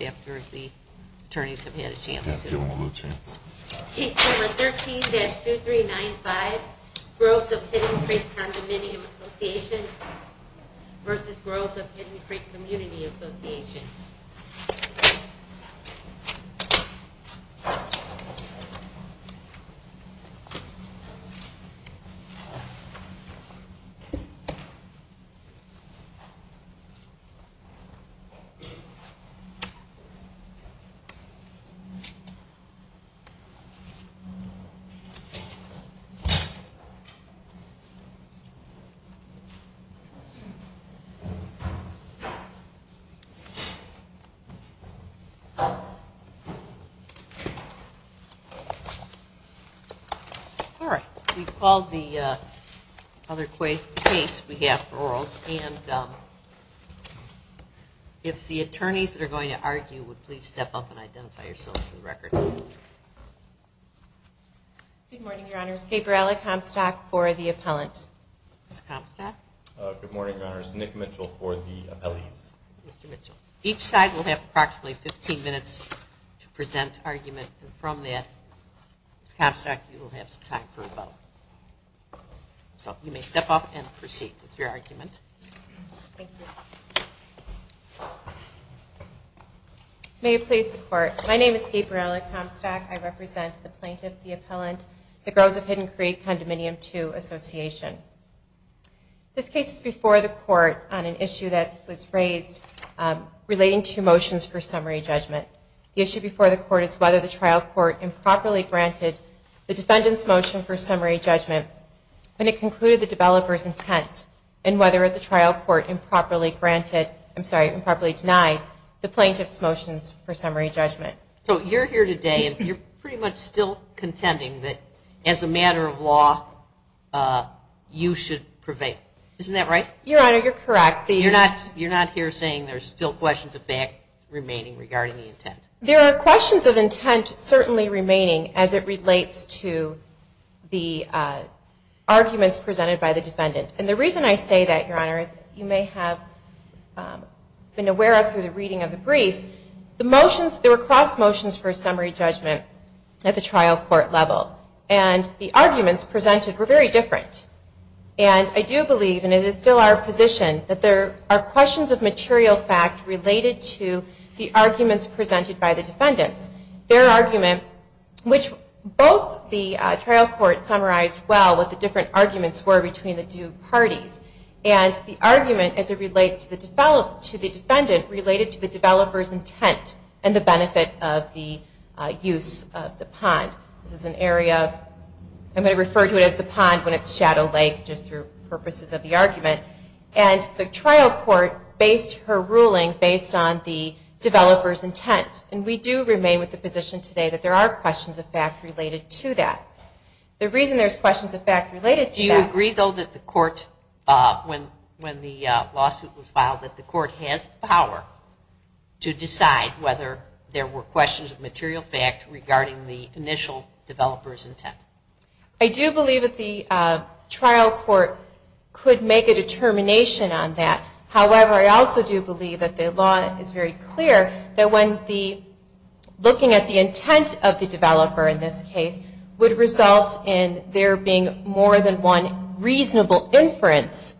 after the attorneys have had a chance to give them a little chance. Case number 13-2395, Groves of Hidden Creek Condominium Association versus Groves of Hidden Creek Community Association. All right. We've called the other case we have for Orals, and if the attorneys that are going to argue would please step up and identify yourselves for the record. Good morning, Your Honors. Gabriella Comstock for the appellant. Good morning, Your Honors. Nick Mitchell for the appellant. Each side will have approximately 15 minutes to present argument, and from that, Ms. Comstock, you will have some time for a vote. So you may step up and proceed with your argument. Thank you. May it please the Court. My name is Gabriella Comstock. I represent the plaintiff, the appellant, the Groves of Hidden Creek Condominium II Association. This case is before the Court on an issue that was raised relating to motions for summary judgment. The issue before the Court is whether the trial court improperly granted the defendant's motion for summary judgment when it concluded the developer's intent, and whether the trial court improperly denied the plaintiff's motions for summary judgment. So you're here today, and you're pretty much still contending that as a matter of law, you should prevail. Isn't that right? Your Honor, you're correct. You're not here saying there's still questions of fact remaining regarding the intent? There are questions of intent certainly remaining as it relates to the arguments presented by the defendant. And the reason I say that, Your Honor, is you may have been aware of through the reading of the briefs, the motions, there were cross motions for summary judgment at the trial court level. And the arguments presented were very different. And I do believe, and it is still our position, that there are questions of material fact related to the arguments presented by the defendants. Their argument, which both the trial court summarized well what the different arguments were between the two parties, and the argument as it relates to the defendant related to the developer's intent and the benefit of the use of the pond. This is an area of, I'm going to refer to it as the pond when it's shadow lake just through purposes of the argument. And the trial court based her ruling based on the developer's intent. And we do remain with the position today that there are questions of fact related to that. The reason there's questions of fact related to that. Do you agree, though, that the court, when the lawsuit was filed, that the court has the power to decide whether there were questions of material fact regarding the initial developer's intent? I do believe that the trial court could make a determination on that. However, I also do believe that the law is very clear that when the, looking at the intent of the developer in this case would result in there being more than one reasonable inference,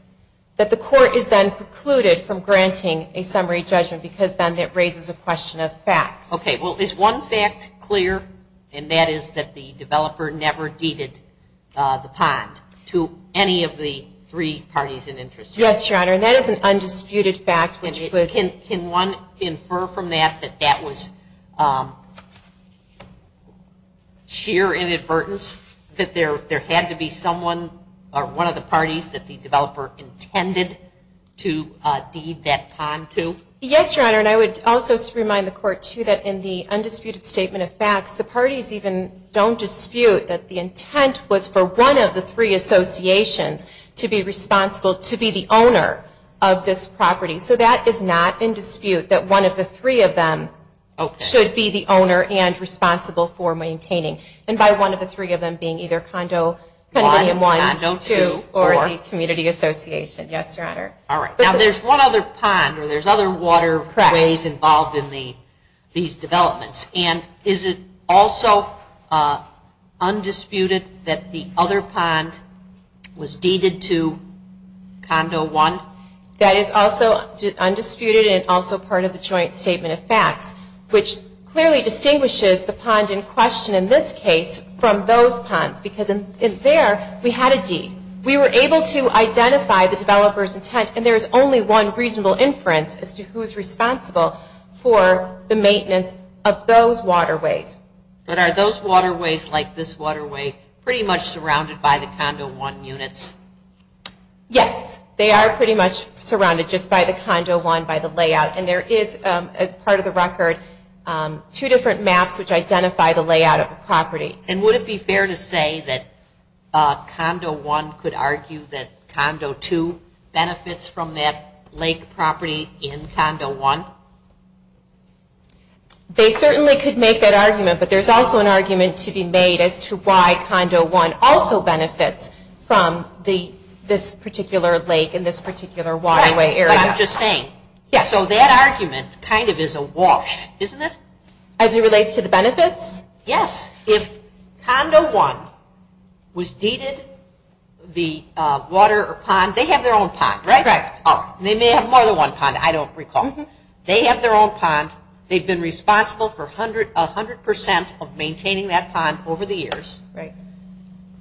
that the court is then precluded from granting a summary judgment because then it raises a question of fact. Okay. Well, is one fact clear, and that is that the developer never deeded the pond to any of the three parties in interest? Yes, Your Honor. And that is an undisputed fact. Can one infer from that that that was sheer inadvertence, that there had to be someone or one of the parties that the developer intended to deed that pond to? Yes, Your Honor. And I would also remind the court, too, that in the undisputed statement of facts, the parties even don't dispute that the intent was for one of the three associations to be responsible to be the owner of this property. So that is not in dispute, that one of the three of them should be the owner and responsible for maintaining. And by one of the three of them being either Condo 1, 2, or the community association. Yes, Your Honor. All right. Now, there's one other pond, or there's other waterways involved in these developments. And is it also undisputed that the other pond was deeded to Condo 1? That is also undisputed and also part of the joint statement of facts, which clearly distinguishes the pond in question in this case from those ponds. Because in there, we had a deed. We were able to identify the developer's intent, and there's only one reasonable inference as to who's responsible for the maintenance of those waterways. But are those waterways, like this waterway, pretty much surrounded by the Condo 1 units? Yes, they are pretty much surrounded just by the Condo 1, by the layout. And there is, as part of the record, two different maps which identify the layout of the property. And would it be fair to say that Condo 1 could argue that Condo 2 benefits from that lake property in Condo 1? They certainly could make that argument, but there's also an argument to be made as to why Condo 1 also benefits from this particular lake and this particular waterway area. That's what I'm just saying. Yes. So that argument kind of is awash, isn't it? As it relates to the benefits? Yes. If Condo 1 was deeded the water or pond, they have their own pond, right? Correct. They may have more than one pond, I don't recall. They have their own pond. They've been responsible for 100% of maintaining that pond over the years. Right.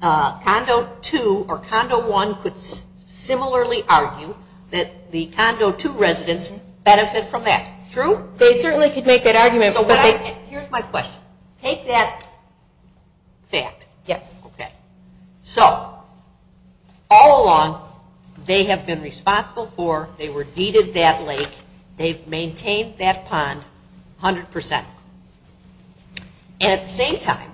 So Condo 2 or Condo 1 could similarly argue that the Condo 2 residents benefit from that. True? They certainly could make that argument. Here's my question. Take that fact. Yes. Okay. So all along, they have been responsible for, they were deeded that lake, they've maintained that pond 100%. And at the same time,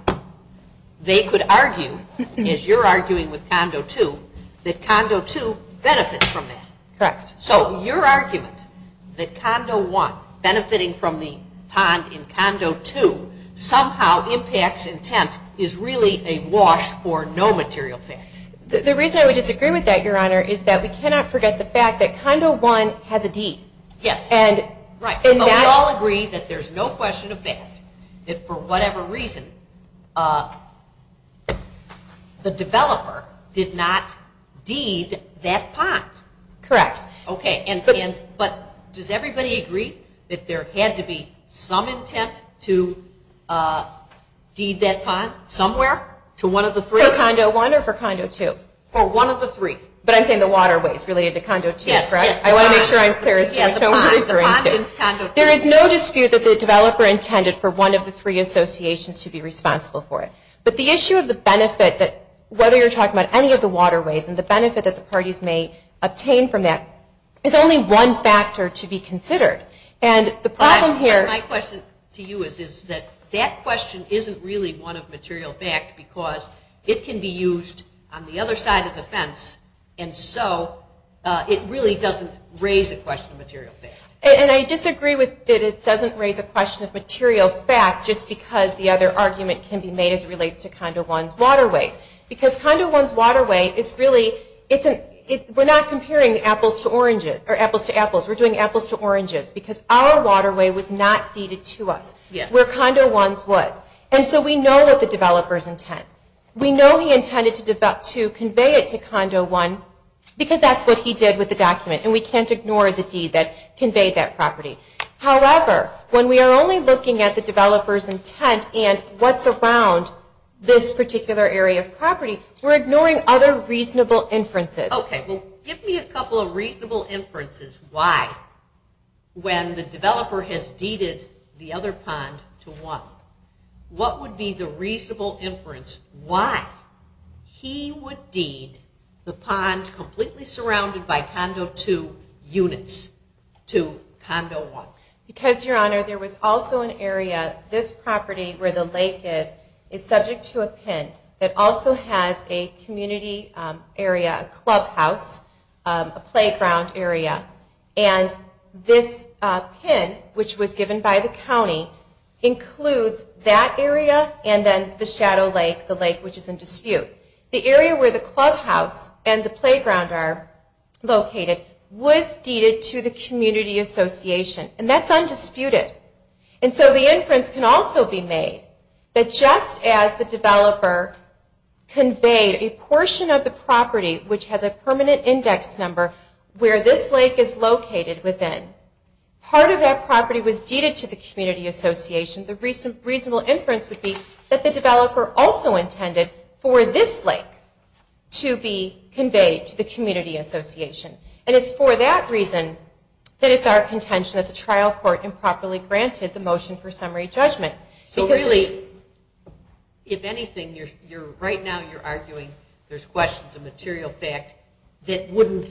they could argue, as you're arguing with Condo 2, that Condo 2 benefits from that. Correct. So your argument that Condo 1 benefiting from the pond in Condo 2 somehow impacts intent is really a wash or no material fact. The reason I would disagree with that, Your Honor, is that we cannot forget the fact that Condo 1 has a deed. Yes. We all agree that there's no question of fact that for whatever reason, the developer did not deed that pond. Correct. Okay. But does everybody agree that there had to be some intent to deed that pond somewhere to one of the three? For Condo 1 or for Condo 2? For one of the three. But I'm saying the waterways related to Condo 2, correct? I want to make sure I'm clear as to what you're referring to. There is no dispute that the developer intended for one of the three associations to be responsible for it. But the issue of the benefit, whether you're talking about any of the waterways, and the benefit that the parties may obtain from that is only one factor to be considered. My question to you is that that question isn't really one of material fact because it can be used on the other side of the fence, and so it really doesn't raise a question of material fact. And I disagree that it doesn't raise a question of material fact just because the other argument can be made as it relates to Condo 1's waterways. Because Condo 1's waterway is really, we're not comparing apples to oranges, or apples to apples. We're doing apples to oranges because our waterway was not deeded to us where Condo 1's was. And so we know what the developer's intent. We know he intended to convey it to Condo 1 because that's what he did with the document. And we can't ignore the deed that conveyed that property. However, when we are only looking at the developer's intent and what's around this particular area of property, we're ignoring other reasonable inferences. Okay, well give me a couple of reasonable inferences why when the developer has deeded the other pond to 1. What would be the reasonable inference why he would deed the pond completely surrounded by Condo 2 units to Condo 1? Because, Your Honor, there was also an area, this property where the lake is, is subject to a pin that also has a community area, a clubhouse, a playground area. And this pin, which was given by the county, includes that area and then the shadow lake, the lake which is in dispute. The area where the clubhouse and the playground are located was deeded to the community association. And that's undisputed. And so the inference can also be made that just as the developer conveyed a portion of the property, which has a permanent index number where this lake is located within, part of that property was deeded to the community association, the reasonable inference would be that the developer also intended for this lake to be conveyed to the community association. And it's for that reason that it's our contention that the trial court improperly granted the motion for summary judgment. So really, if anything, right now you're arguing there's questions of material fact that wouldn't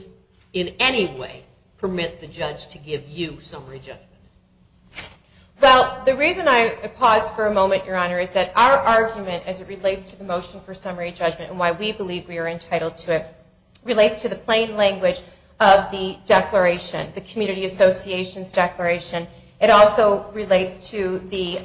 in any way permit the judge to give you summary judgment. Well, the reason I paused for a moment, Your Honor, is that our argument as it relates to the motion for summary judgment and why we believe we are entitled to it relates to the plain language of the declaration, the community association's declaration. It also relates to the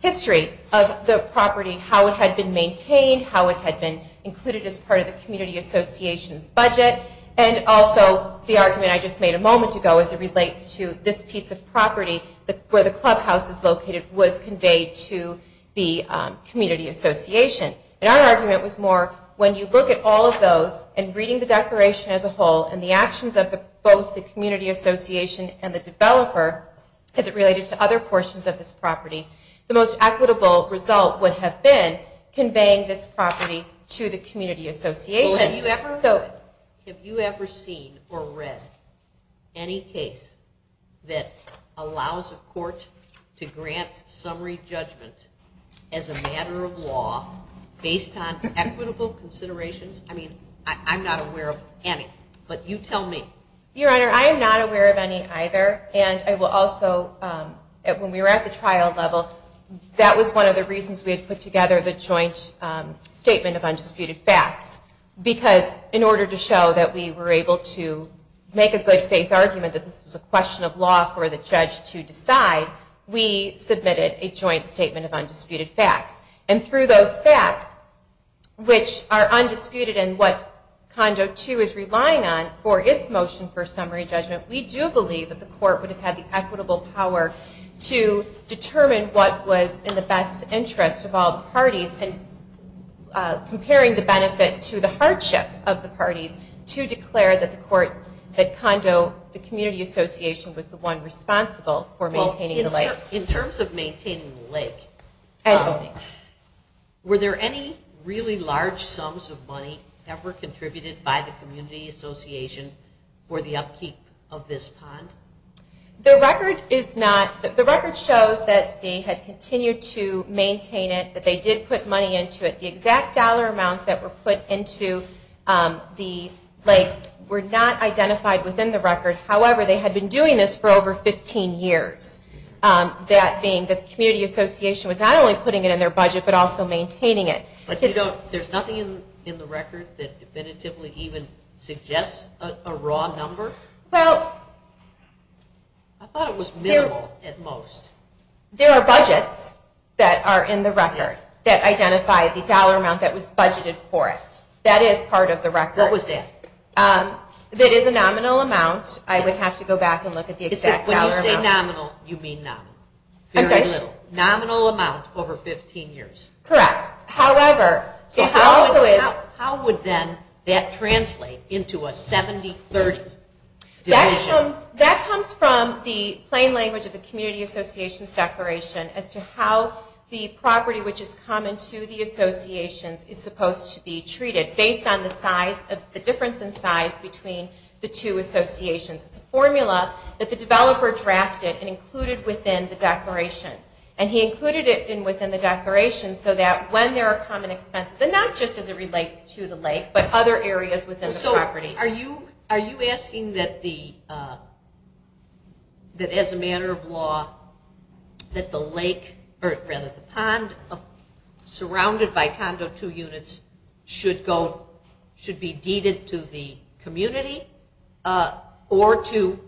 history of the property, how it had been maintained, how it had been included as part of the community association's budget, and also the argument I just made a moment ago as it relates to this piece of property where the clubhouse is located was conveyed to the community association. And our argument was more when you look at all of those and reading the declaration as a whole and the actions of both the community association and the developer as it related to other portions of this property, the most equitable result would have been conveying this property to the community association. So have you ever seen or read any case that allows a court to grant summary judgment as a matter of law based on equitable considerations? I mean, I'm not aware of any, but you tell me. Your Honor, I am not aware of any either. And I will also, when we were at the trial level, that was one of the reasons we had put together the joint statement of undisputed facts because in order to show that we were able to make a good faith argument that this was a question of law for the judge to decide, we submitted a joint statement of undisputed facts. And through those facts, which are undisputed and what condo 2 is relying on for its motion for summary judgment, we do believe that the court would have had the equitable power to determine what was in the best interest of all the parties and comparing the benefit to the hardship of the parties to declare that the condo, the community association, was the one responsible for maintaining the lake. In terms of maintaining the lake, were there any really large sums of money ever contributed by the community association for the upkeep of this pond? The record shows that they had continued to maintain it, that they did put money into it. The exact dollar amounts that were put into the lake were not identified within the record. However, they had been doing this for over 15 years. That being that the community association was not only putting it in their budget but also maintaining it. There's nothing in the record that definitively even suggests a raw number? Well... I thought it was minimal at most. There are budgets that are in the record that identify the dollar amount that was budgeted for it. That is part of the record. What was that? That is a nominal amount. I would have to go back and look at the exact dollar amount. When you say nominal, you mean nominal. Very little. Nominal amount over 15 years. Correct. However... How would then that translate into a 70-30 decision? That comes from the plain language of the community association's declaration as to how the property which is common to the associations is supposed to be treated based on the difference in size between the two associations. It's a formula that the developer drafted and included within the declaration. And he included it within the declaration so that when there are common expenses, not just as it relates to the lake but other areas within the property. Are you asking that as a matter of law that the pond surrounded by Condo 2 units should be deeded to the community or to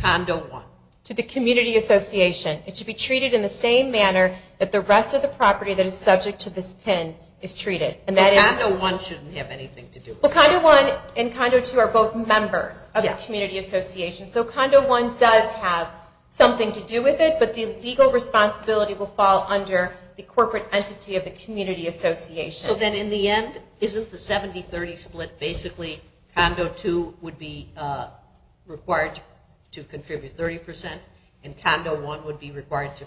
Condo 1? To the community association. It should be treated in the same manner that the rest of the property that is subject to this PIN is treated. So Condo 1 shouldn't have anything to do with it? Condo 1 and Condo 2 are both members of the community association. So Condo 1 does have something to do with it, but the legal responsibility will fall under the corporate entity of the community association. So then in the end, isn't the 70-30 split basically Condo 2 would be required to contribute 30% and Condo 1 would be required to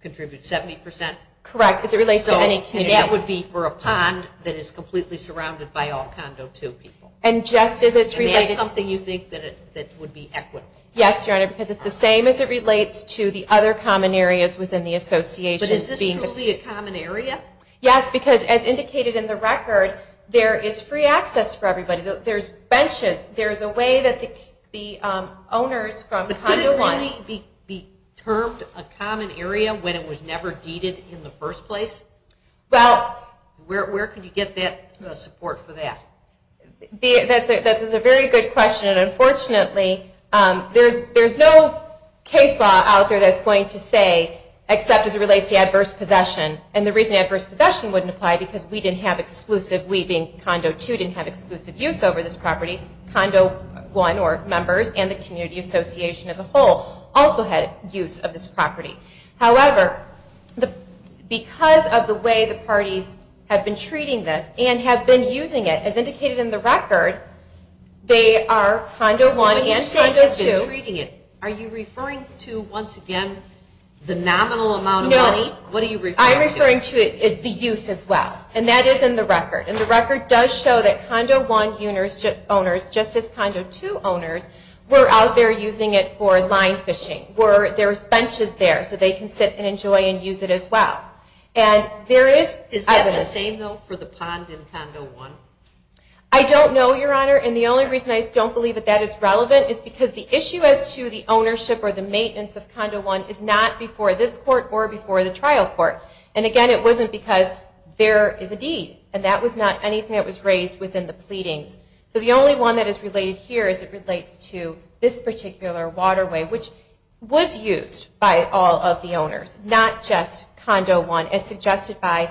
contribute 70%? Correct, because it relates to any community. And that would be for a pond that is completely surrounded by all Condo 2 people. And that's something you think that would be equitable? Yes, Your Honor, because it's the same as it relates to the other common areas within the association. But is this truly a common area? Yes, because as indicated in the record, there is free access for everybody. There's benches. There's a way that the owners from Condo 1. But could it really be termed a common area when it was never deeded in the first place? Well, where could you get support for that? That is a very good question. And unfortunately, there's no case law out there that's going to say except as it relates to adverse possession. And the reason adverse possession wouldn't apply because we didn't have exclusive use over this property. Condo 1 or members and the community association as a whole also had use of this property. However, because of the way the parties have been treating this and have been using it, as indicated in the record, they are Condo 1 and Condo 2. When you say they've been treating it, are you referring to, once again, the nominal amount of money? No. What are you referring to? I'm referring to the use as well. And that is in the record. And the record does show that Condo 1 owners, just as Condo 2 owners, were out there using it for line fishing. There's benches there so they can sit and enjoy and use it as well. Is that the same, though, for the pond in Condo 1? I don't know, Your Honor. And the only reason I don't believe that that is relevant is because the issue as to the ownership or the maintenance of Condo 1 is not before this court or before the trial court. And, again, it wasn't because there is a deed. And that was not anything that was raised within the pleadings. So the only one that is related here is it relates to this particular waterway, which was used by all of the owners, not just Condo 1, as suggested by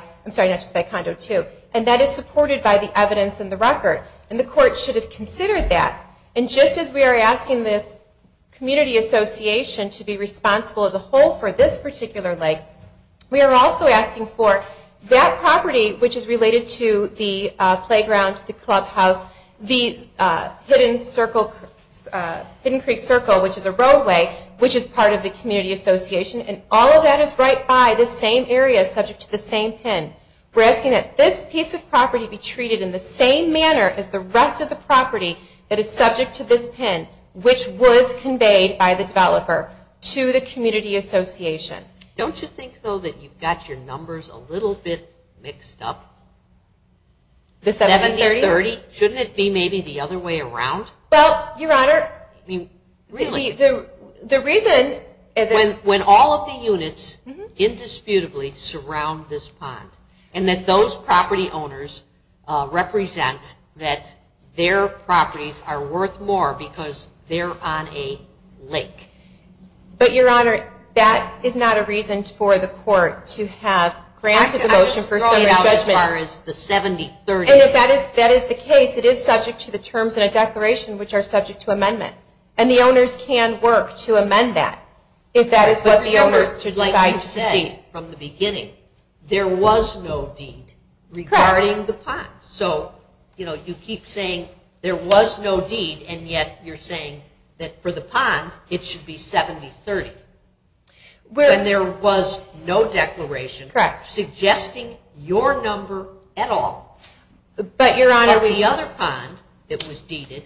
Condo 2. And that is supported by the evidence in the record. And the court should have considered that. And just as we are asking this community association to be responsible as a whole for this particular lake, we are also asking for that property, which is related to the playground, the clubhouse, the hidden creek circle, which is a roadway, which is part of the community association. And all of that is right by this same area, subject to the same pin. We're asking that this piece of property be treated in the same manner as the rest of the property that is subject to this pin, which was conveyed by the developer to the community association. Don't you think, though, that you've got your numbers a little bit mixed up? The 730? Shouldn't it be maybe the other way around? Well, Your Honor, the reason is... When all of the units indisputably surround this pond, and that those property owners represent that their properties are worth more because they're on a lake. But, Your Honor, that is not a reason for the court to have granted the motion for summary judgment. I'm just throwing it out as far as the 730. And if that is the case, it is subject to the terms in a declaration, which are subject to amendment. And the owners can work to amend that. If that is what the owners would like you to say from the beginning, there was no deed regarding the pond. So, you know, you keep saying there was no deed, and yet you're saying that for the pond it should be 730. When there was no declaration suggesting your number at all. But the other pond that was deeded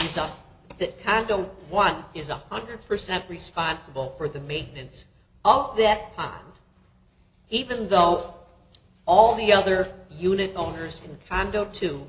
is that Condo 1 is 100% responsible for the maintenance of that pond, even though all the other unit owners in Condo 2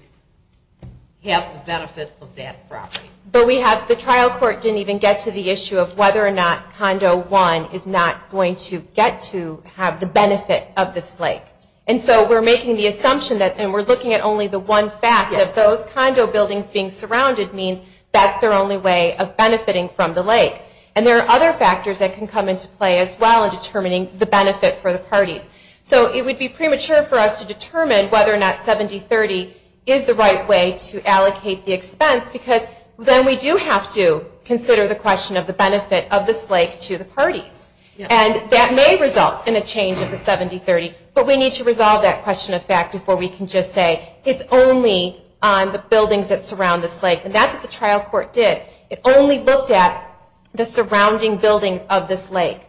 have the benefit of that property. But the trial court didn't even get to the issue of whether or not Condo 1 is not going to get to have the benefit of this lake. And so we're making the assumption that, and we're looking at only the one fact that those condo buildings being surrounded means that's their only way of benefiting from the lake. And there are other factors that can come into play as well in determining the benefit for the parties. So it would be premature for us to determine whether or not 7030 is the right way to allocate the expense, because then we do have to consider the question of the benefit of this lake to the parties. And that may result in a change of the 7030. But we need to resolve that question of fact before we can just say it's only on the buildings that surround this lake. And that's what the trial court did. It only looked at the surrounding buildings of this lake.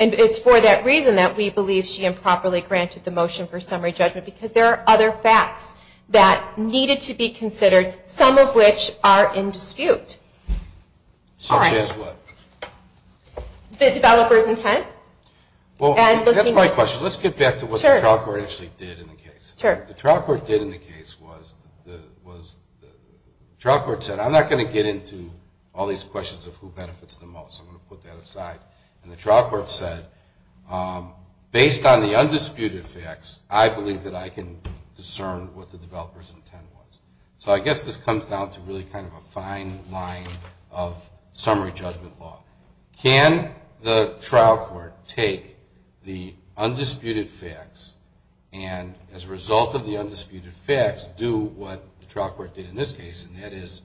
And it's for that reason that we believe she improperly granted the motion for summary judgment, because there are other facts that needed to be considered, some of which are in dispute. Such as what? The developer's intent. Well, that's my question. Let's get back to what the trial court actually did in the case. What the trial court did in the case was the trial court said, I'm not going to get into all these questions of who benefits the most. I'm going to put that aside. And the trial court said, based on the undisputed facts, I believe that I can discern what the developer's intent was. So I guess this comes down to really kind of a fine line of summary judgment law. Can the trial court take the undisputed facts and, as a result of the undisputed facts, do what the trial court did in this case, and that is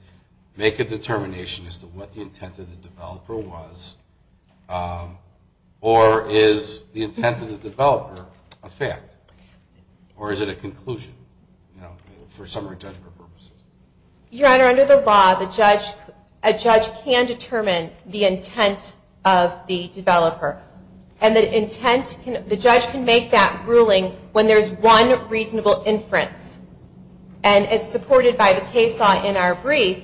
make a determination as to what the intent of the developer was? Or is the intent of the developer a fact? Or is it a conclusion for summary judgment purposes? Your Honor, under the law, a judge can determine the intent of the developer. And the judge can make that ruling when there's one reasonable inference. And as supported by the case law in our brief,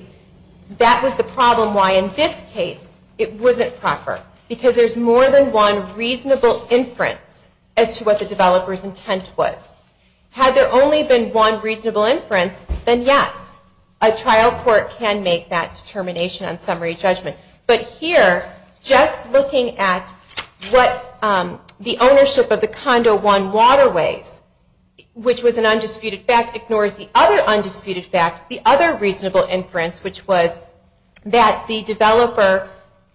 that was the problem why in this case it wasn't proper, because there's more than one reasonable inference as to what the developer's intent was. Had there only been one reasonable inference, then yes, a trial court can make that determination on summary judgment. But here, just looking at what the ownership of the Condo 1 waterways, which was an undisputed fact, ignores the other undisputed fact, the other reasonable inference, which was that the developer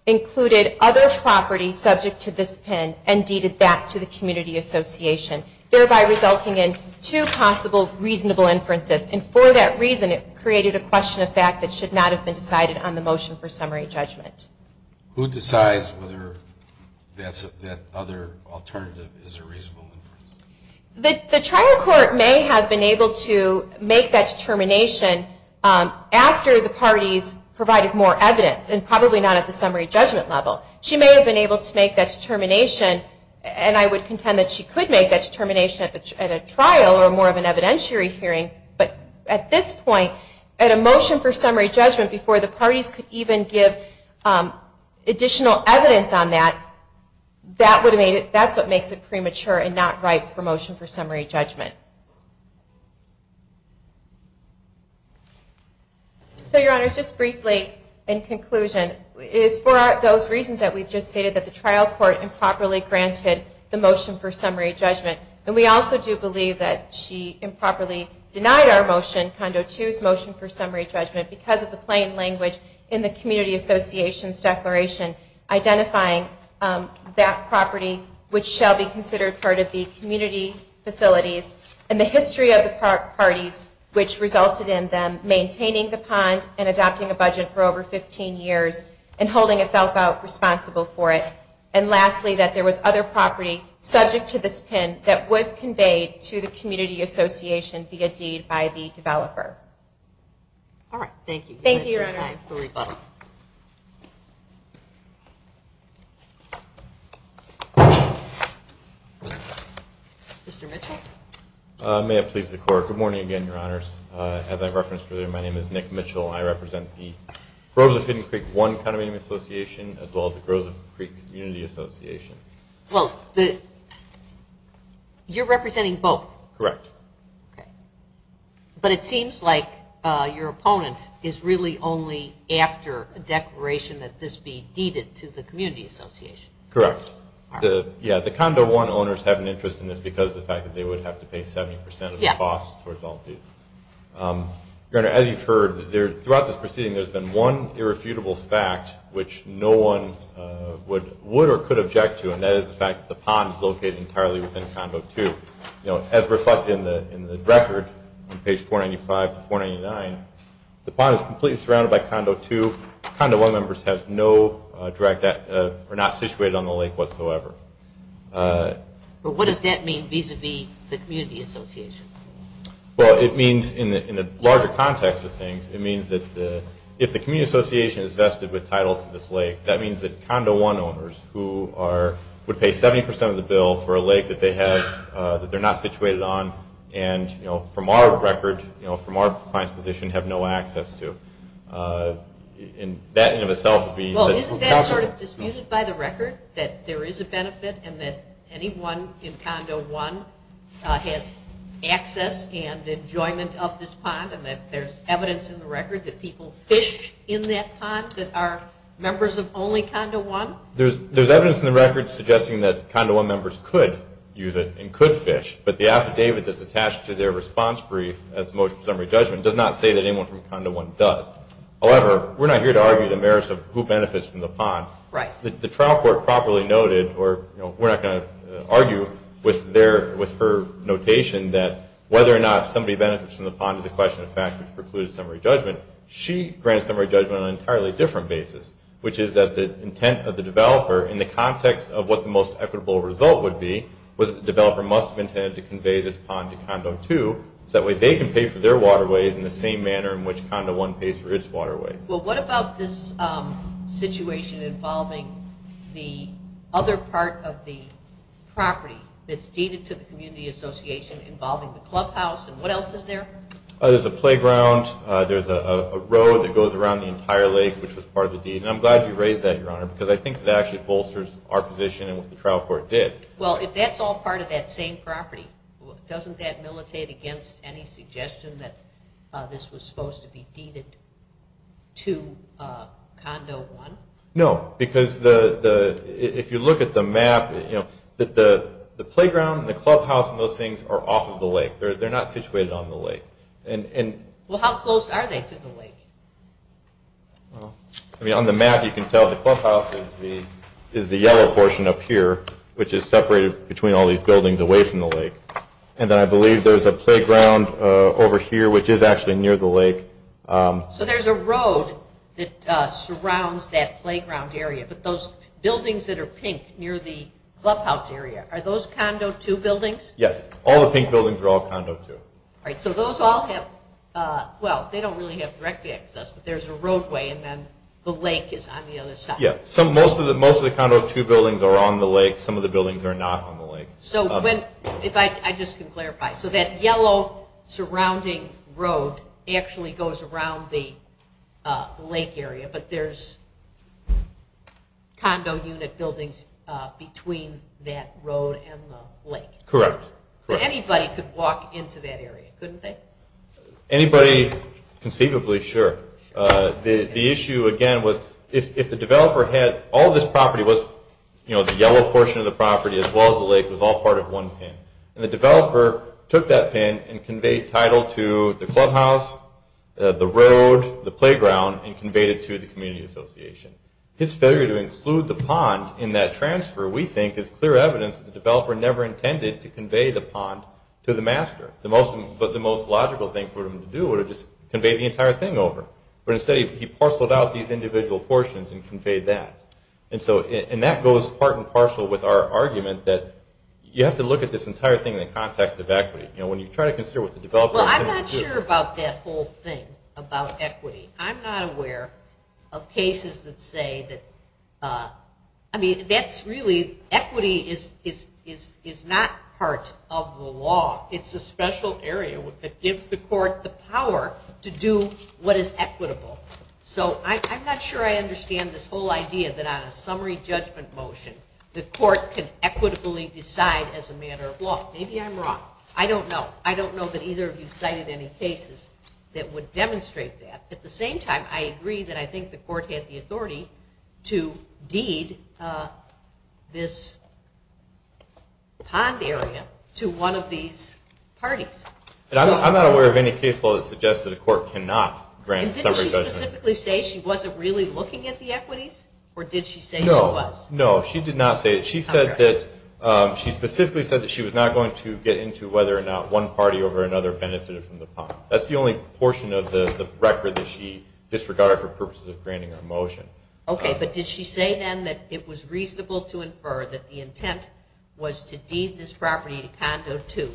included other property subject to this pin and deeded that to the community association, thereby resulting in two possible reasonable inferences. And for that reason, it created a question of fact that should not have been decided on the motion for summary judgment. Who decides whether that other alternative is a reasonable inference? The trial court may have been able to make that determination after the parties provided more evidence, and probably not at the summary judgment level. She may have been able to make that determination, and I would contend that she could make that determination at a trial or more of an evidentiary hearing. But at this point, at a motion for summary judgment, before the parties could even give additional evidence on that, that's what makes it premature and not right for motion for summary judgment. So, Your Honors, just briefly, in conclusion, it is for those reasons that we've just stated that the trial court improperly granted the motion for summary judgment. And we also do believe that she improperly denied our motion, Condo 2's motion for summary judgment, because of the plain language in the community association's declaration identifying that property, which shall be considered part of the community facilities, and the history of the parties, which resulted in them maintaining the pond and adopting a budget for over 15 years and holding itself out responsible for it. And lastly, that there was other property subject to this pin that was conveyed to the community association via deed by the developer. All right. Thank you. Thank you, Your Honor. Mr. Mitchell? May it please the Court. Good morning again, Your Honors. As I referenced earlier, my name is Nick Mitchell. I represent the Groves of Hidden Creek 1 County Meeting Association, as well as the Groves of Hidden Creek Community Association. Well, you're representing both. Correct. Okay. But it seems like your opponent is really only after a declaration that this be deeded to the community association. Correct. Yeah, the Condo 1 owners have an interest in this because of the fact that they would have to pay 70% of the cost towards all of these. Your Honor, as you've heard throughout this proceeding, there's been one irrefutable fact which no one would or could object to, and that is the fact that the pond is located entirely within Condo 2. You know, as reflected in the record on page 495 to 499, the pond is completely surrounded by Condo 2. Condo 1 members have no direct, are not situated on the lake whatsoever. Well, what does that mean vis-a-vis the community association? Well, it means in the larger context of things, it means that if the community association is vested with title to this lake, that means that Condo 1 owners who are, would pay 70% of the bill for a lake that they have, that they're not situated on, and, you know, from our record, you know, from our client's position, have no access to. And that in and of itself would be. Well, isn't that sort of disputed by the record, that there is a benefit and that anyone in Condo 1 has access and enjoyment of this pond and that there's evidence in the record that people fish in that pond that are members of only Condo 1? There's evidence in the record suggesting that Condo 1 members could use it and could fish, but the affidavit that's attached to their response brief, as most summary judgment, does not say that anyone from Condo 1 does. However, we're not here to argue the merits of who benefits from the pond. Right. The trial court properly noted, or, you know, we're not going to argue with their, with her notation, that whether or not somebody benefits from the pond is a question of fact, which precludes summary judgment. She granted summary judgment on an entirely different basis, which is that the intent of the developer, in the context of what the most equitable result would be, was that the developer must have intended to convey this pond to Condo 2, so that way they can pay for their waterways in the same manner in which Condo 1 pays for its waterways. Well, what about this situation involving the other part of the property that's deeded to the community association involving the clubhouse, and what else is there? There's a playground. There's a road that goes around the entire lake, which was part of the deed, and I'm glad you raised that, Your Honor, because I think that actually bolsters our position and what the trial court did. Well, if that's all part of that same property, doesn't that militate against any suggestion that this was supposed to be deeded to Condo 1? No, because the, if you look at the map, you know, that the playground and the clubhouse and those things are off of the lake. They're not situated on the lake. Well, how close are they to the lake? Well, I mean, on the map you can tell the clubhouse is the yellow portion up here, which is separated between all these buildings away from the lake, and then I believe there's a playground over here, which is actually near the lake. So there's a road that surrounds that playground area, but those buildings that are pink near the clubhouse area, are those Condo 2 buildings? Yes. All the pink buildings are all Condo 2. All right. So those all have, well, they don't really have direct access, but there's a roadway, and then the lake is on the other side. Yeah. Most of the Condo 2 buildings are on the lake. Some of the buildings are not on the lake. So when, if I, I just can clarify. So that yellow surrounding road actually goes around the lake area, but there's condo unit buildings between that road and the lake. Correct. Anybody could walk into that area, couldn't they? Anybody, conceivably, sure. The issue, again, was if the developer had, all this property was, you know, the yellow portion of the property as well as the lake was all part of one pin, and the developer took that pin and conveyed title to the clubhouse, the road, the playground, and conveyed it to the community association. His failure to include the pond in that transfer, we think, is clear evidence that the developer never intended to convey the pond to the master. The most, but the most logical thing for him to do would have just conveyed the entire thing over. But instead, he parceled out these individual portions and conveyed that. And so, and that goes part and parcel with our argument that you have to look at this entire thing in the context of equity. You know, when you try to consider what the developer is going to do. Well, I'm not sure about that whole thing about equity. I'm not aware of cases that say that, I mean, that's really, equity is not part of the law. It's a special area that gives the court the power to do what is equitable. So I'm not sure I understand this whole idea that on a summary judgment motion, the court can equitably decide as a matter of law. Maybe I'm wrong. I don't know. I don't know that either of you cited any cases that would demonstrate that. At the same time, I agree that I think the court had the authority to deed this pond area to one of these parties. I'm not aware of any case law that suggests that a court cannot grant a summary judgment. And didn't she specifically say she wasn't really looking at the equities? Or did she say she was? No, no, she did not say it. She said that, she specifically said that she was not going to get into whether or not one party over another benefited from the pond. That's the only portion of the record that she disregarded for purposes of granting a motion. Okay. But did she say then that it was reasonable to infer that the intent was to deed this property to condo two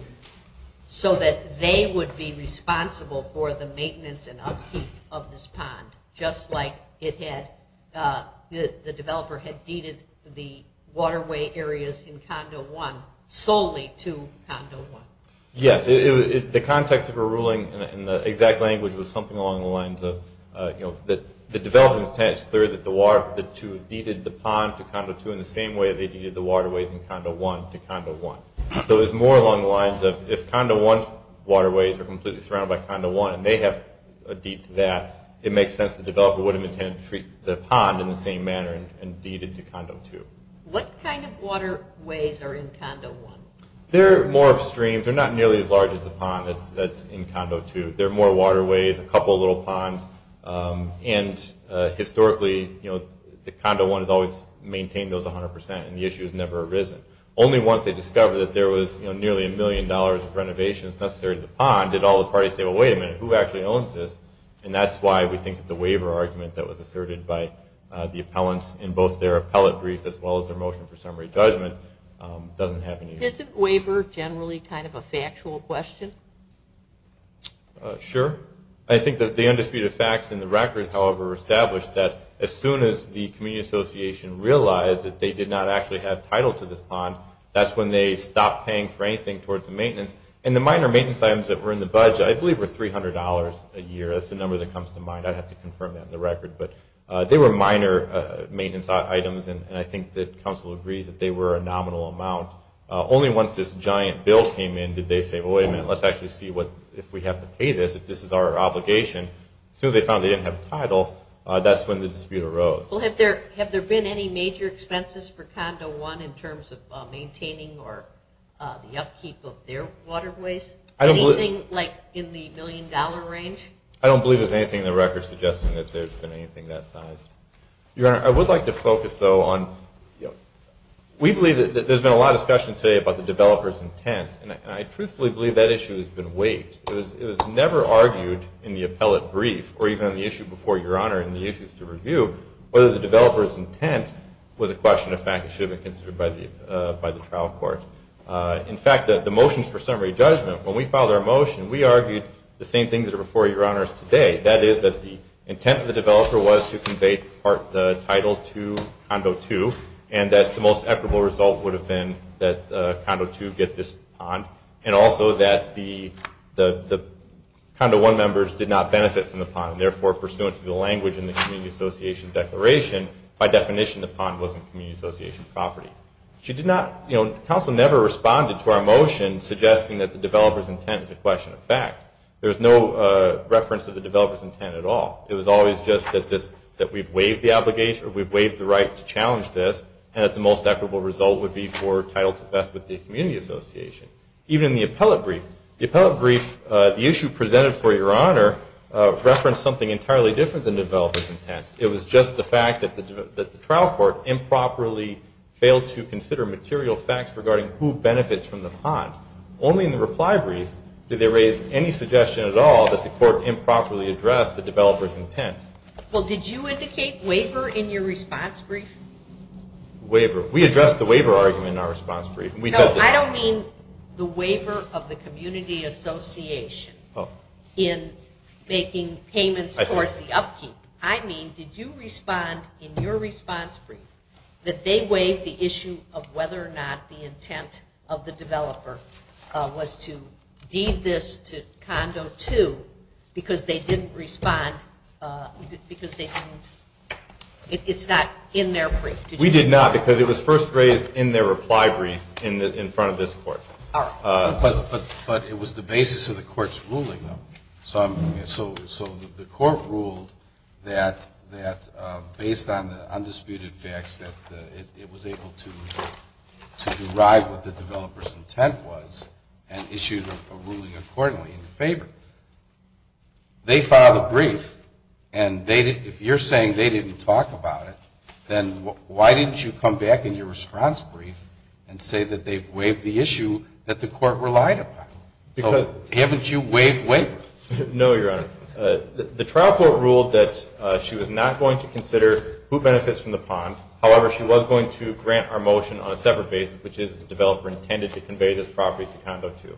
so that they would be responsible for the maintenance and upkeep of this pond, just like the developer had deeded the waterway areas in condo one solely to condo one? Yes. The context of her ruling in the exact language was something along the lines of, you know, the developer's intent is clear that the two deeded the pond to condo two in the same way they deeded the waterways in condo one to condo one. So it was more along the lines of if condo one's waterways are completely surrounded by condo one and they have a deed to that, it makes sense the developer would have intended to treat the pond in the same manner and deeded to condo two. What kind of waterways are in condo one? They're more of streams. They're not nearly as large as the pond that's in condo two. They're more waterways, a couple of little ponds, and historically, you know, the condo one has always maintained those 100% and the issue has never arisen. Only once they discovered that there was nearly a million dollars of renovations necessary to the pond did all the parties say, well, wait a minute, who actually owns this? And that's why we think that the waiver argument that was asserted by the appellants in both their appellate brief as well as their motion for summary judgment doesn't have any use. Does the waiver generally kind of a factual question? Sure. I think that the undisputed facts in the record, however, established that as soon as the community association realized that they did not actually have title to this pond, that's when they stopped paying for anything towards the maintenance and the minor maintenance items that were in the budget, I believe, were $300 a year. That's the number that comes to mind. I'd have to confirm that in the record, but they were minor maintenance items and I think that council agrees that they were a nominal amount. Only once this giant bill came in, did they say, well, wait a minute, let's actually see what, if we have to pay this, if this is our obligation. As soon as they found they didn't have a title, that's when the dispute arose. Well, have there been any major expenses for condo one in terms of maintaining or the upkeep of their waterways? Anything like in the million dollar range? I don't believe there's anything in the record suggesting that there's been anything that size. Your Honor, I would like to focus, though, on, we believe that there's been a lot of discussion today about the developer's intent. And I truthfully believe that issue has been waived. It was never argued in the appellate brief or even on the issue before your Honor in the issues to review, whether the developer's intent was a question of fact that should have been considered by the trial court. In fact, the motions for summary judgment, when we filed our motion, we argued the same things that are before your Honors today. That is that the intent of the developer was to convey the title to condo two and that the most equitable result would have been that condo two get this pond. And also that the condo one members did not benefit from the pond. Therefore, pursuant to the language in the community association declaration, by definition, the pond wasn't community association property. She did not, you know, counsel never responded to our motion suggesting that the developer's intent is a question of fact. There was no reference to the developer's intent at all. It was always just that this, that we've waived the obligation or we've waived the right to challenge this and that the most equitable result would be for title to best with the community association. Even the appellate brief, the appellate brief, the issue presented for your Honor referenced something entirely different than developers intent. It was just the fact that the trial court improperly failed to consider material facts regarding who benefits from the pond. Only in the reply brief, did they raise any suggestion at all that the court improperly addressed the developer's intent? Well, did you indicate waiver in your response brief? Waiver. We addressed the waiver argument in our response brief. No, I don't mean the waiver of the community association in making payments towards the upkeep. I mean, did you respond in your response brief that they waived the issue of whether or not the intent of the developer was to deed this to condo two, because they didn't respond, because they didn't, it's not in their brief. We did not, because it was first raised in their reply brief in front of this court. But it was the basis of the court's ruling. So the court ruled that based on the undisputed facts that it was able to derive what the developer's intent was and issued a ruling accordingly in favor. They filed a brief, and if you're saying they didn't talk about it, then why didn't you come back in your response brief and say that they've waived the issue that the court relied upon? So haven't you waived waiver? No, Your Honor. The trial court ruled that she was not going to consider who benefits from the pond. However, she was going to grant our motion on a separate basis, which is the developer intended to convey this property to condo two.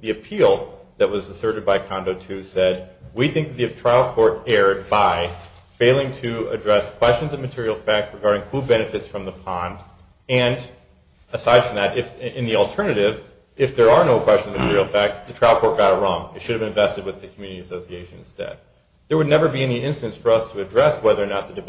The appeal that was asserted by condo two said, we think the trial court erred by failing to address questions of material fact regarding who benefits from the pond. And aside from that, in the alternative, if there are no questions of material fact, the trial court got it wrong. It should have invested with the community association instead. There would never be any instance for us to address whether or not the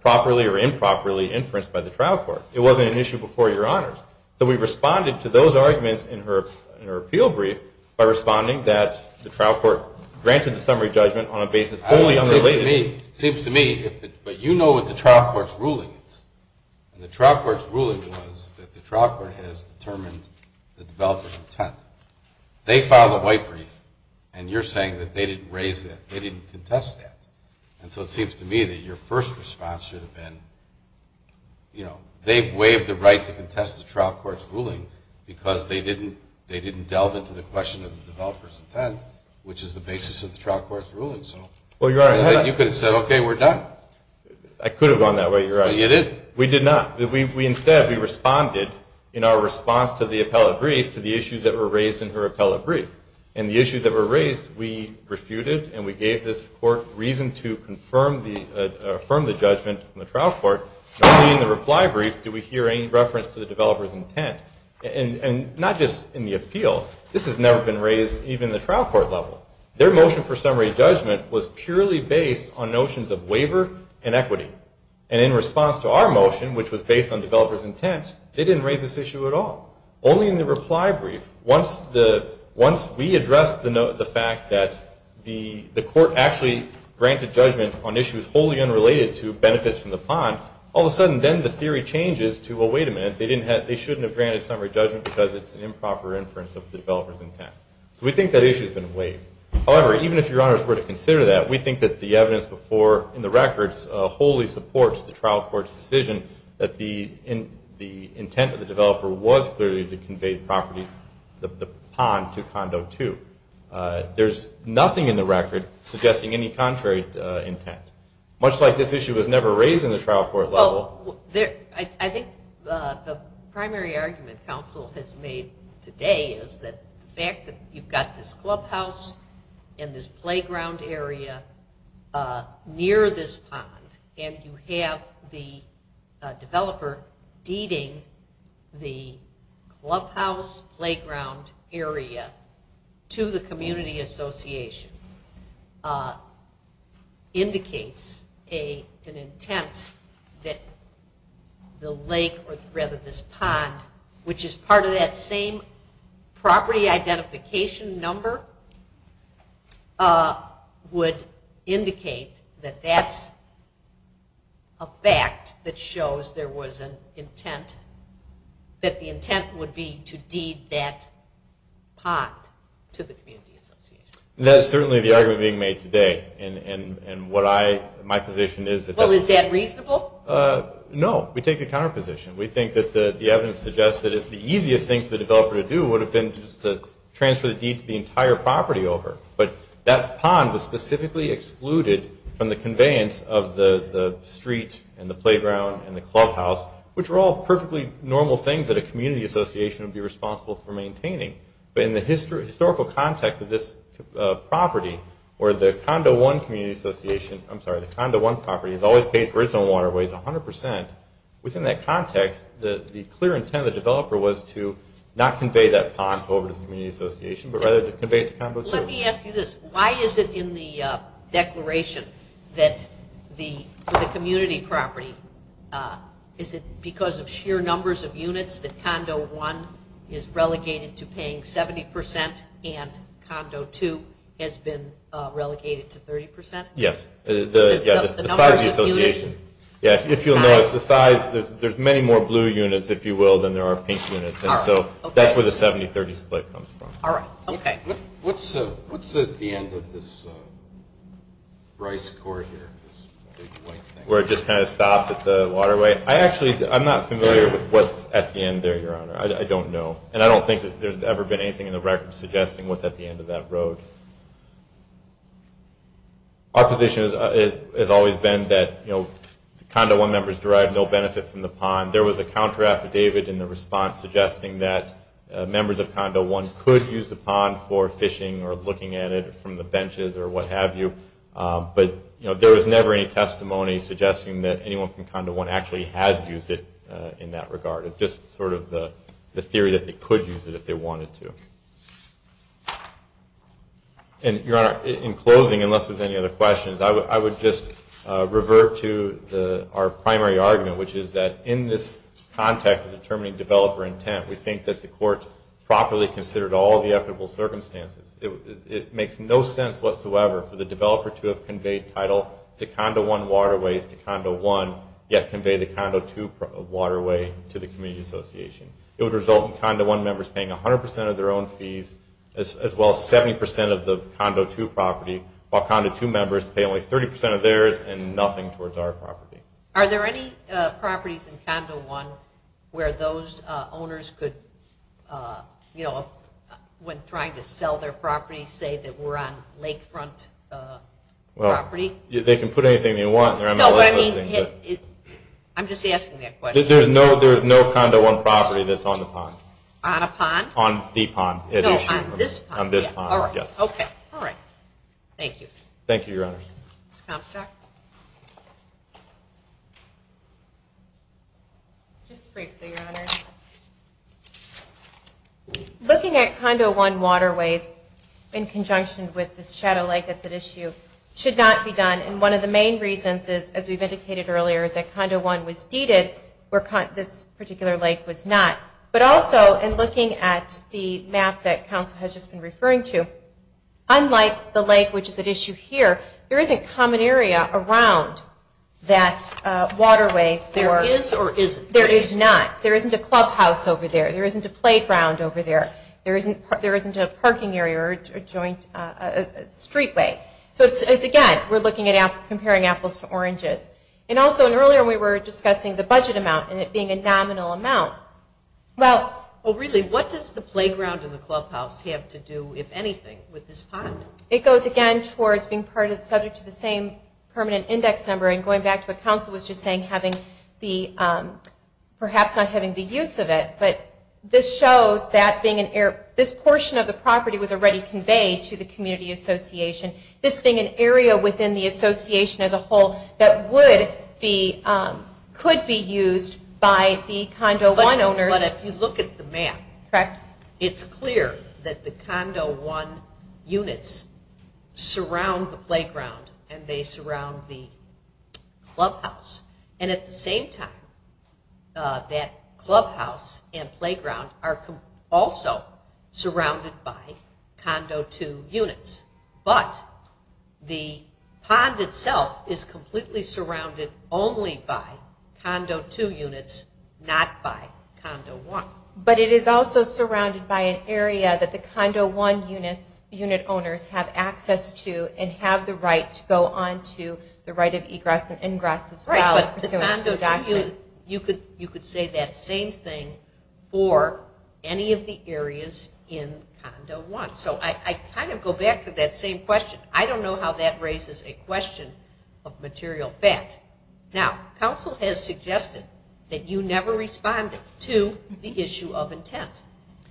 property were improperly inferenced by the trial court. It wasn't an issue before, Your Honor. So we responded to those arguments in her appeal brief by responding that the trial court granted the summary judgment on a basis only unrelated. It seems to me, but you know what the trial court's ruling is. And the trial court's ruling was that the trial court has determined the developer's intent. They filed a white brief, and you're saying that they didn't raise that, they didn't contest that. And so it seems to me that your first response should have been, you know, they waived the right to contest the trial court's ruling because they didn't delve into the question of the developer's intent, which is the basis of the trial court's ruling. So you could have said, okay, we're done. I could have gone that way, Your Honor. But you didn't. We did not. Instead, we responded in our response to the appellate brief to the issues that were raised in her appellate brief. And the issues that were raised, we refuted and we gave this court reason to affirm the judgment in the trial court. Not only in the reply brief did we hear any reference to the developer's intent, and not just in the appeal. This has never been raised even in the trial court level. Their motion for summary judgment was purely based on notions of waiver and equity. And in response to our motion, which was based on developer's intent, they didn't raise this issue at all. Only in the reply brief, once we addressed the fact that the court actually granted judgment on issues wholly unrelated to benefits from the pond, all of a sudden then the theory changes to, well, wait a minute, they shouldn't have granted summary judgment because it's an improper inference of the developer's intent. So we think that issue has been waived. However, even if Your Honors were to consider that, we think that the evidence before in the records wholly supports the trial court's decision that the intent of the developer was clearly to convey property, the pond to Condo 2. There's nothing in the record suggesting any contrary intent. Much like this issue was never raised in the trial court level. Well, I think the primary argument counsel has made today is that the fact that you've got this clubhouse and this playground area near this pond, and you have the developer deeding the clubhouse, playground area to the community association, indicates an intent that the lake, or rather this pond, which is part of that same property identification number, would indicate that that's a fact that shows there was an intent, that the intent would be to deed that pond to the community association. That is certainly the argument being made today. And what I, my position is. Well, is that reasonable? No. We take the counter position. We think that the evidence suggests that the easiest thing for the But that pond was specifically excluded from the conveyance of the street and the playground and the clubhouse, which are all perfectly normal things that a community association would be responsible for maintaining. But in the historical context of this property, or the Condo 1 community association, I'm sorry, the Condo 1 property has always paid for its own waterways 100%. Within that context, the clear intent of the developer was to not convey that pond over to the community association, but rather to convey it to Condo 2. Let me ask you this. Why is it in the declaration that the community property, is it because of sheer numbers of units that Condo 1 is relegated to paying 70% and Condo 2 has been relegated to 30%? Yes. The size of the association. Yeah. If you'll notice the size, there's many more blue units, if you will, than there are pink units. And so that's where the 70-30 split comes from. All right. Okay. What's at the end of this rice court here, this big white thing? Where it just kind of stops at the waterway? I actually, I'm not familiar with what's at the end there, Your Honor. I don't know. And I don't think that there's ever been anything in the record suggesting what's at the end of that road. Our position has always been that, you know, the Condo 1 members derive no benefit from the pond. There was a counter affidavit in the response suggesting that members of the board could use the pond for fishing or looking at it from the benches or what have you. But, you know, there was never any testimony suggesting that anyone from Condo 1 actually has used it in that regard. It's just sort of the theory that they could use it if they wanted to. And, Your Honor, in closing, unless there's any other questions, I would just revert to our primary argument, which is that in this context of determining developer intent, we think that the court properly considered all the equitable circumstances. It makes no sense whatsoever for the developer to have conveyed title to Condo 1 waterways to Condo 1, yet convey the Condo 2 waterway to the community association. It would result in Condo 1 members paying 100% of their own fees, as well as 70% of the Condo 2 property, while Condo 2 members pay only 30% of theirs and nothing towards our property. Are there any properties in Condo 1 where those owners could, you know, when trying to sell their property, say that we're on lakefront property? They can put anything they want. I'm just asking that question. There's no Condo 1 property that's on the pond. On a pond? On the pond. No, on this pond. On this pond, yes. Okay. All right. Thank you. Thank you, Your Honor. Ms. Comstock? Just briefly, Your Honor. Looking at Condo 1 waterways in conjunction with this shadow lake that's at issue should not be done. And one of the main reasons is, as we've indicated earlier, is that Condo 1 was deeded where this particular lake was not. But also, in looking at the map that counsel has just been referring to, unlike the lake which is at issue here, there isn't common area around that waterway. There is or isn't? There is not. There isn't a clubhouse over there. There isn't a playground over there. There isn't a parking area or a joint streetway. So, again, we're looking at comparing apples to oranges. And also, earlier we were discussing the budget amount and it being a nominal amount. Well, really, what does the playground and the clubhouse have to do, if anything, with this pond? It goes, again, towards being part of the subject of the same permanent index number. And going back to what counsel was just saying, having the perhaps not having the use of it. But this shows that being an area, this portion of the property was already conveyed to the community association. This being an area within the association as a whole that would be, could be used by the Condo 1 owners. But if you look at the map, it's clear that the Condo 1 units surround the playground and they surround the clubhouse. And at the same time, that clubhouse and playground are also surrounded by Condo 2 units. But the pond itself is completely surrounded only by Condo 2 units, not by Condo 1. But it is also surrounded by an area that the Condo 1 units, unit owners have access to and have the right to go on to the right of egress and ingress as well, pursuant to the document. You could say that same thing for any of the areas in Condo 1. So I kind of go back to that same question. I don't know how that raises a question of material fact. Now, council has suggested that you never respond to the issue of intent.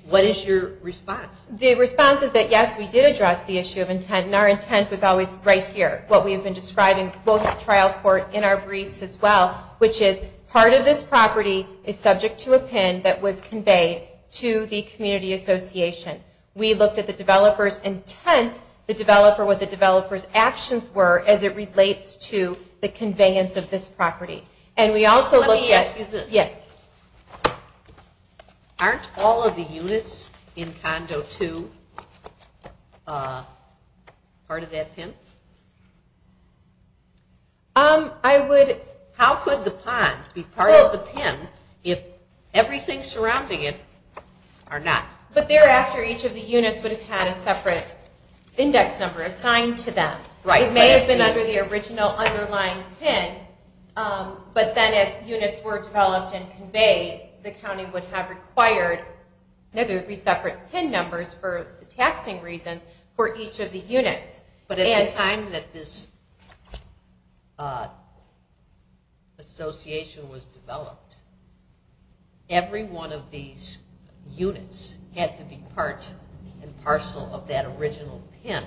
What is your response? The response is that, yes, we did address the issue of intent and our intent was always right here. What we have been describing both at trial court in our briefs as well, which is part of this property is subject to a PIN that was conveyed to the community association. We looked at the developer's intent, the developer, what the developer's actions were as it relates to the conveyance of this property. Let me ask you this. Yes. Aren't all of the units in Condo 2 part of that PIN? How could the pond be part of the PIN if everything surrounding it are not? But thereafter, each of the units would have had a separate index number assigned to them. It may have been under the original underlying PIN, but then as units were developed and conveyed, the county would have required that there would be separate PIN numbers for the taxing reasons for each of the units. But at the time that this association was developed, every one of these units had to be part and parcel of that original PIN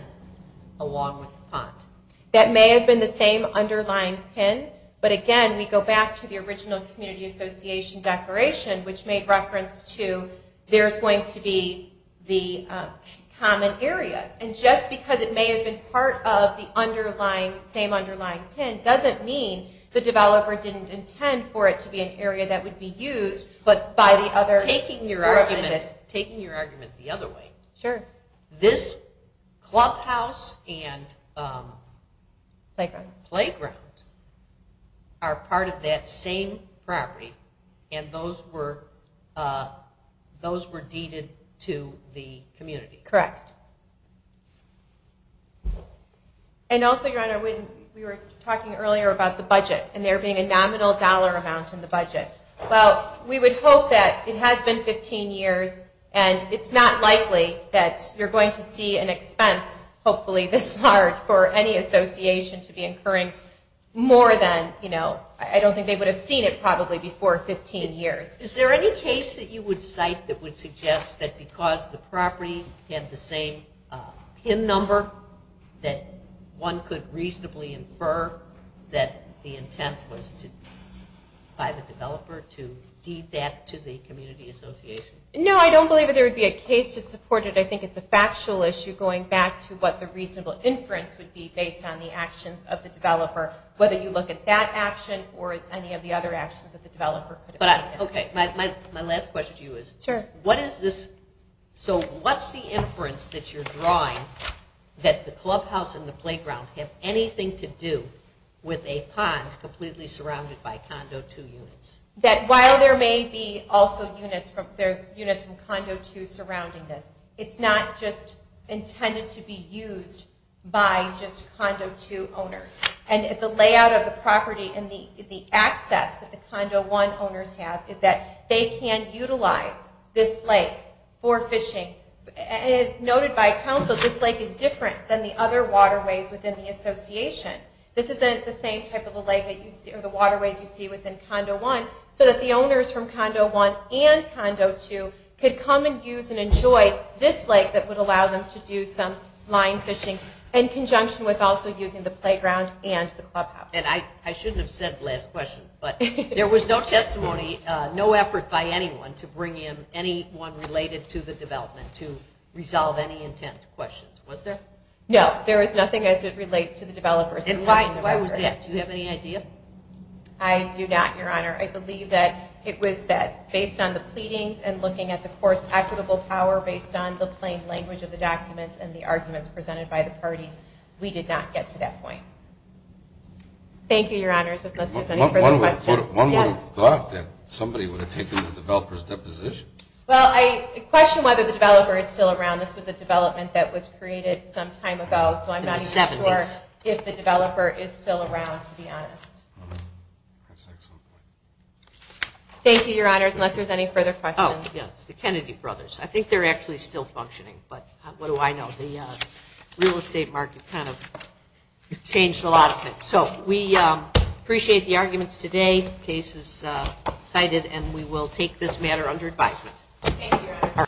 along with the pond. That may have been the same underlying PIN, but again we go back to the original community association declaration, which made reference to there's going to be the common areas. And just because it may have been part of the same underlying PIN doesn't mean the developer didn't intend for it to be an area that would be used. Taking your argument the other way, this clubhouse and playground are part of that same property, and those were deeded to the community. Correct. And also, Your Honor, we were talking earlier about the budget and there being a nominal dollar amount in the budget. Well, we would hope that it has been 15 years, and it's not likely that you're going to see an expense, hopefully this large, for any association to be incurring more than, I don't think they would have seen it probably before 15 years. Is there any case that you would cite that would suggest that because the same PIN number that one could reasonably infer that the intent was by the developer to deed that to the community association? No, I don't believe there would be a case to support it. I think it's a factual issue going back to what the reasonable inference would be based on the actions of the developer, whether you look at that action or any of the other actions that the developer could have taken. Okay, my last question to you is, so what's the inference that you're drawing that the clubhouse and the playground have anything to do with a pond completely surrounded by condo 2 units? That while there may be also units from condo 2 surrounding this, it's not just intended to be used by just condo 2 owners. And the layout of the property and the access that the condo 1 owners have is that they can utilize this lake for fishing. As noted by counsel, this lake is different than the other waterways within the association. This isn't the same type of a lake or the waterways you see within condo 1, so that the owners from condo 1 and condo 2 could come and use and enjoy this lake that would allow them to do some line fishing in conjunction with also using the playground and the clubhouse. And I shouldn't have said last question, but there was no testimony, no effort by anyone to bring in anyone related to the development to resolve any intent questions, was there? No, there was nothing as it relates to the developers. Do you have any idea? I do not, Your Honor. I believe that it was that based on the pleadings and looking at the court's equitable power based on the plain language of the documents and the Thank you, Your Honors, unless there's any further questions. One would have thought that somebody would have taken the developer's deposition. Well, I question whether the developer is still around. This was a development that was created some time ago, so I'm not even sure if the developer is still around, to be honest. That's excellent. Thank you, Your Honors, unless there's any further questions. Oh, yes, the Kennedy brothers. I think they're actually still functioning, but what do I know? The real estate market kind of changed a lot of things. So we appreciate the arguments today. The case is cited, and we will take this matter under advisement. Thank you, Your Honor.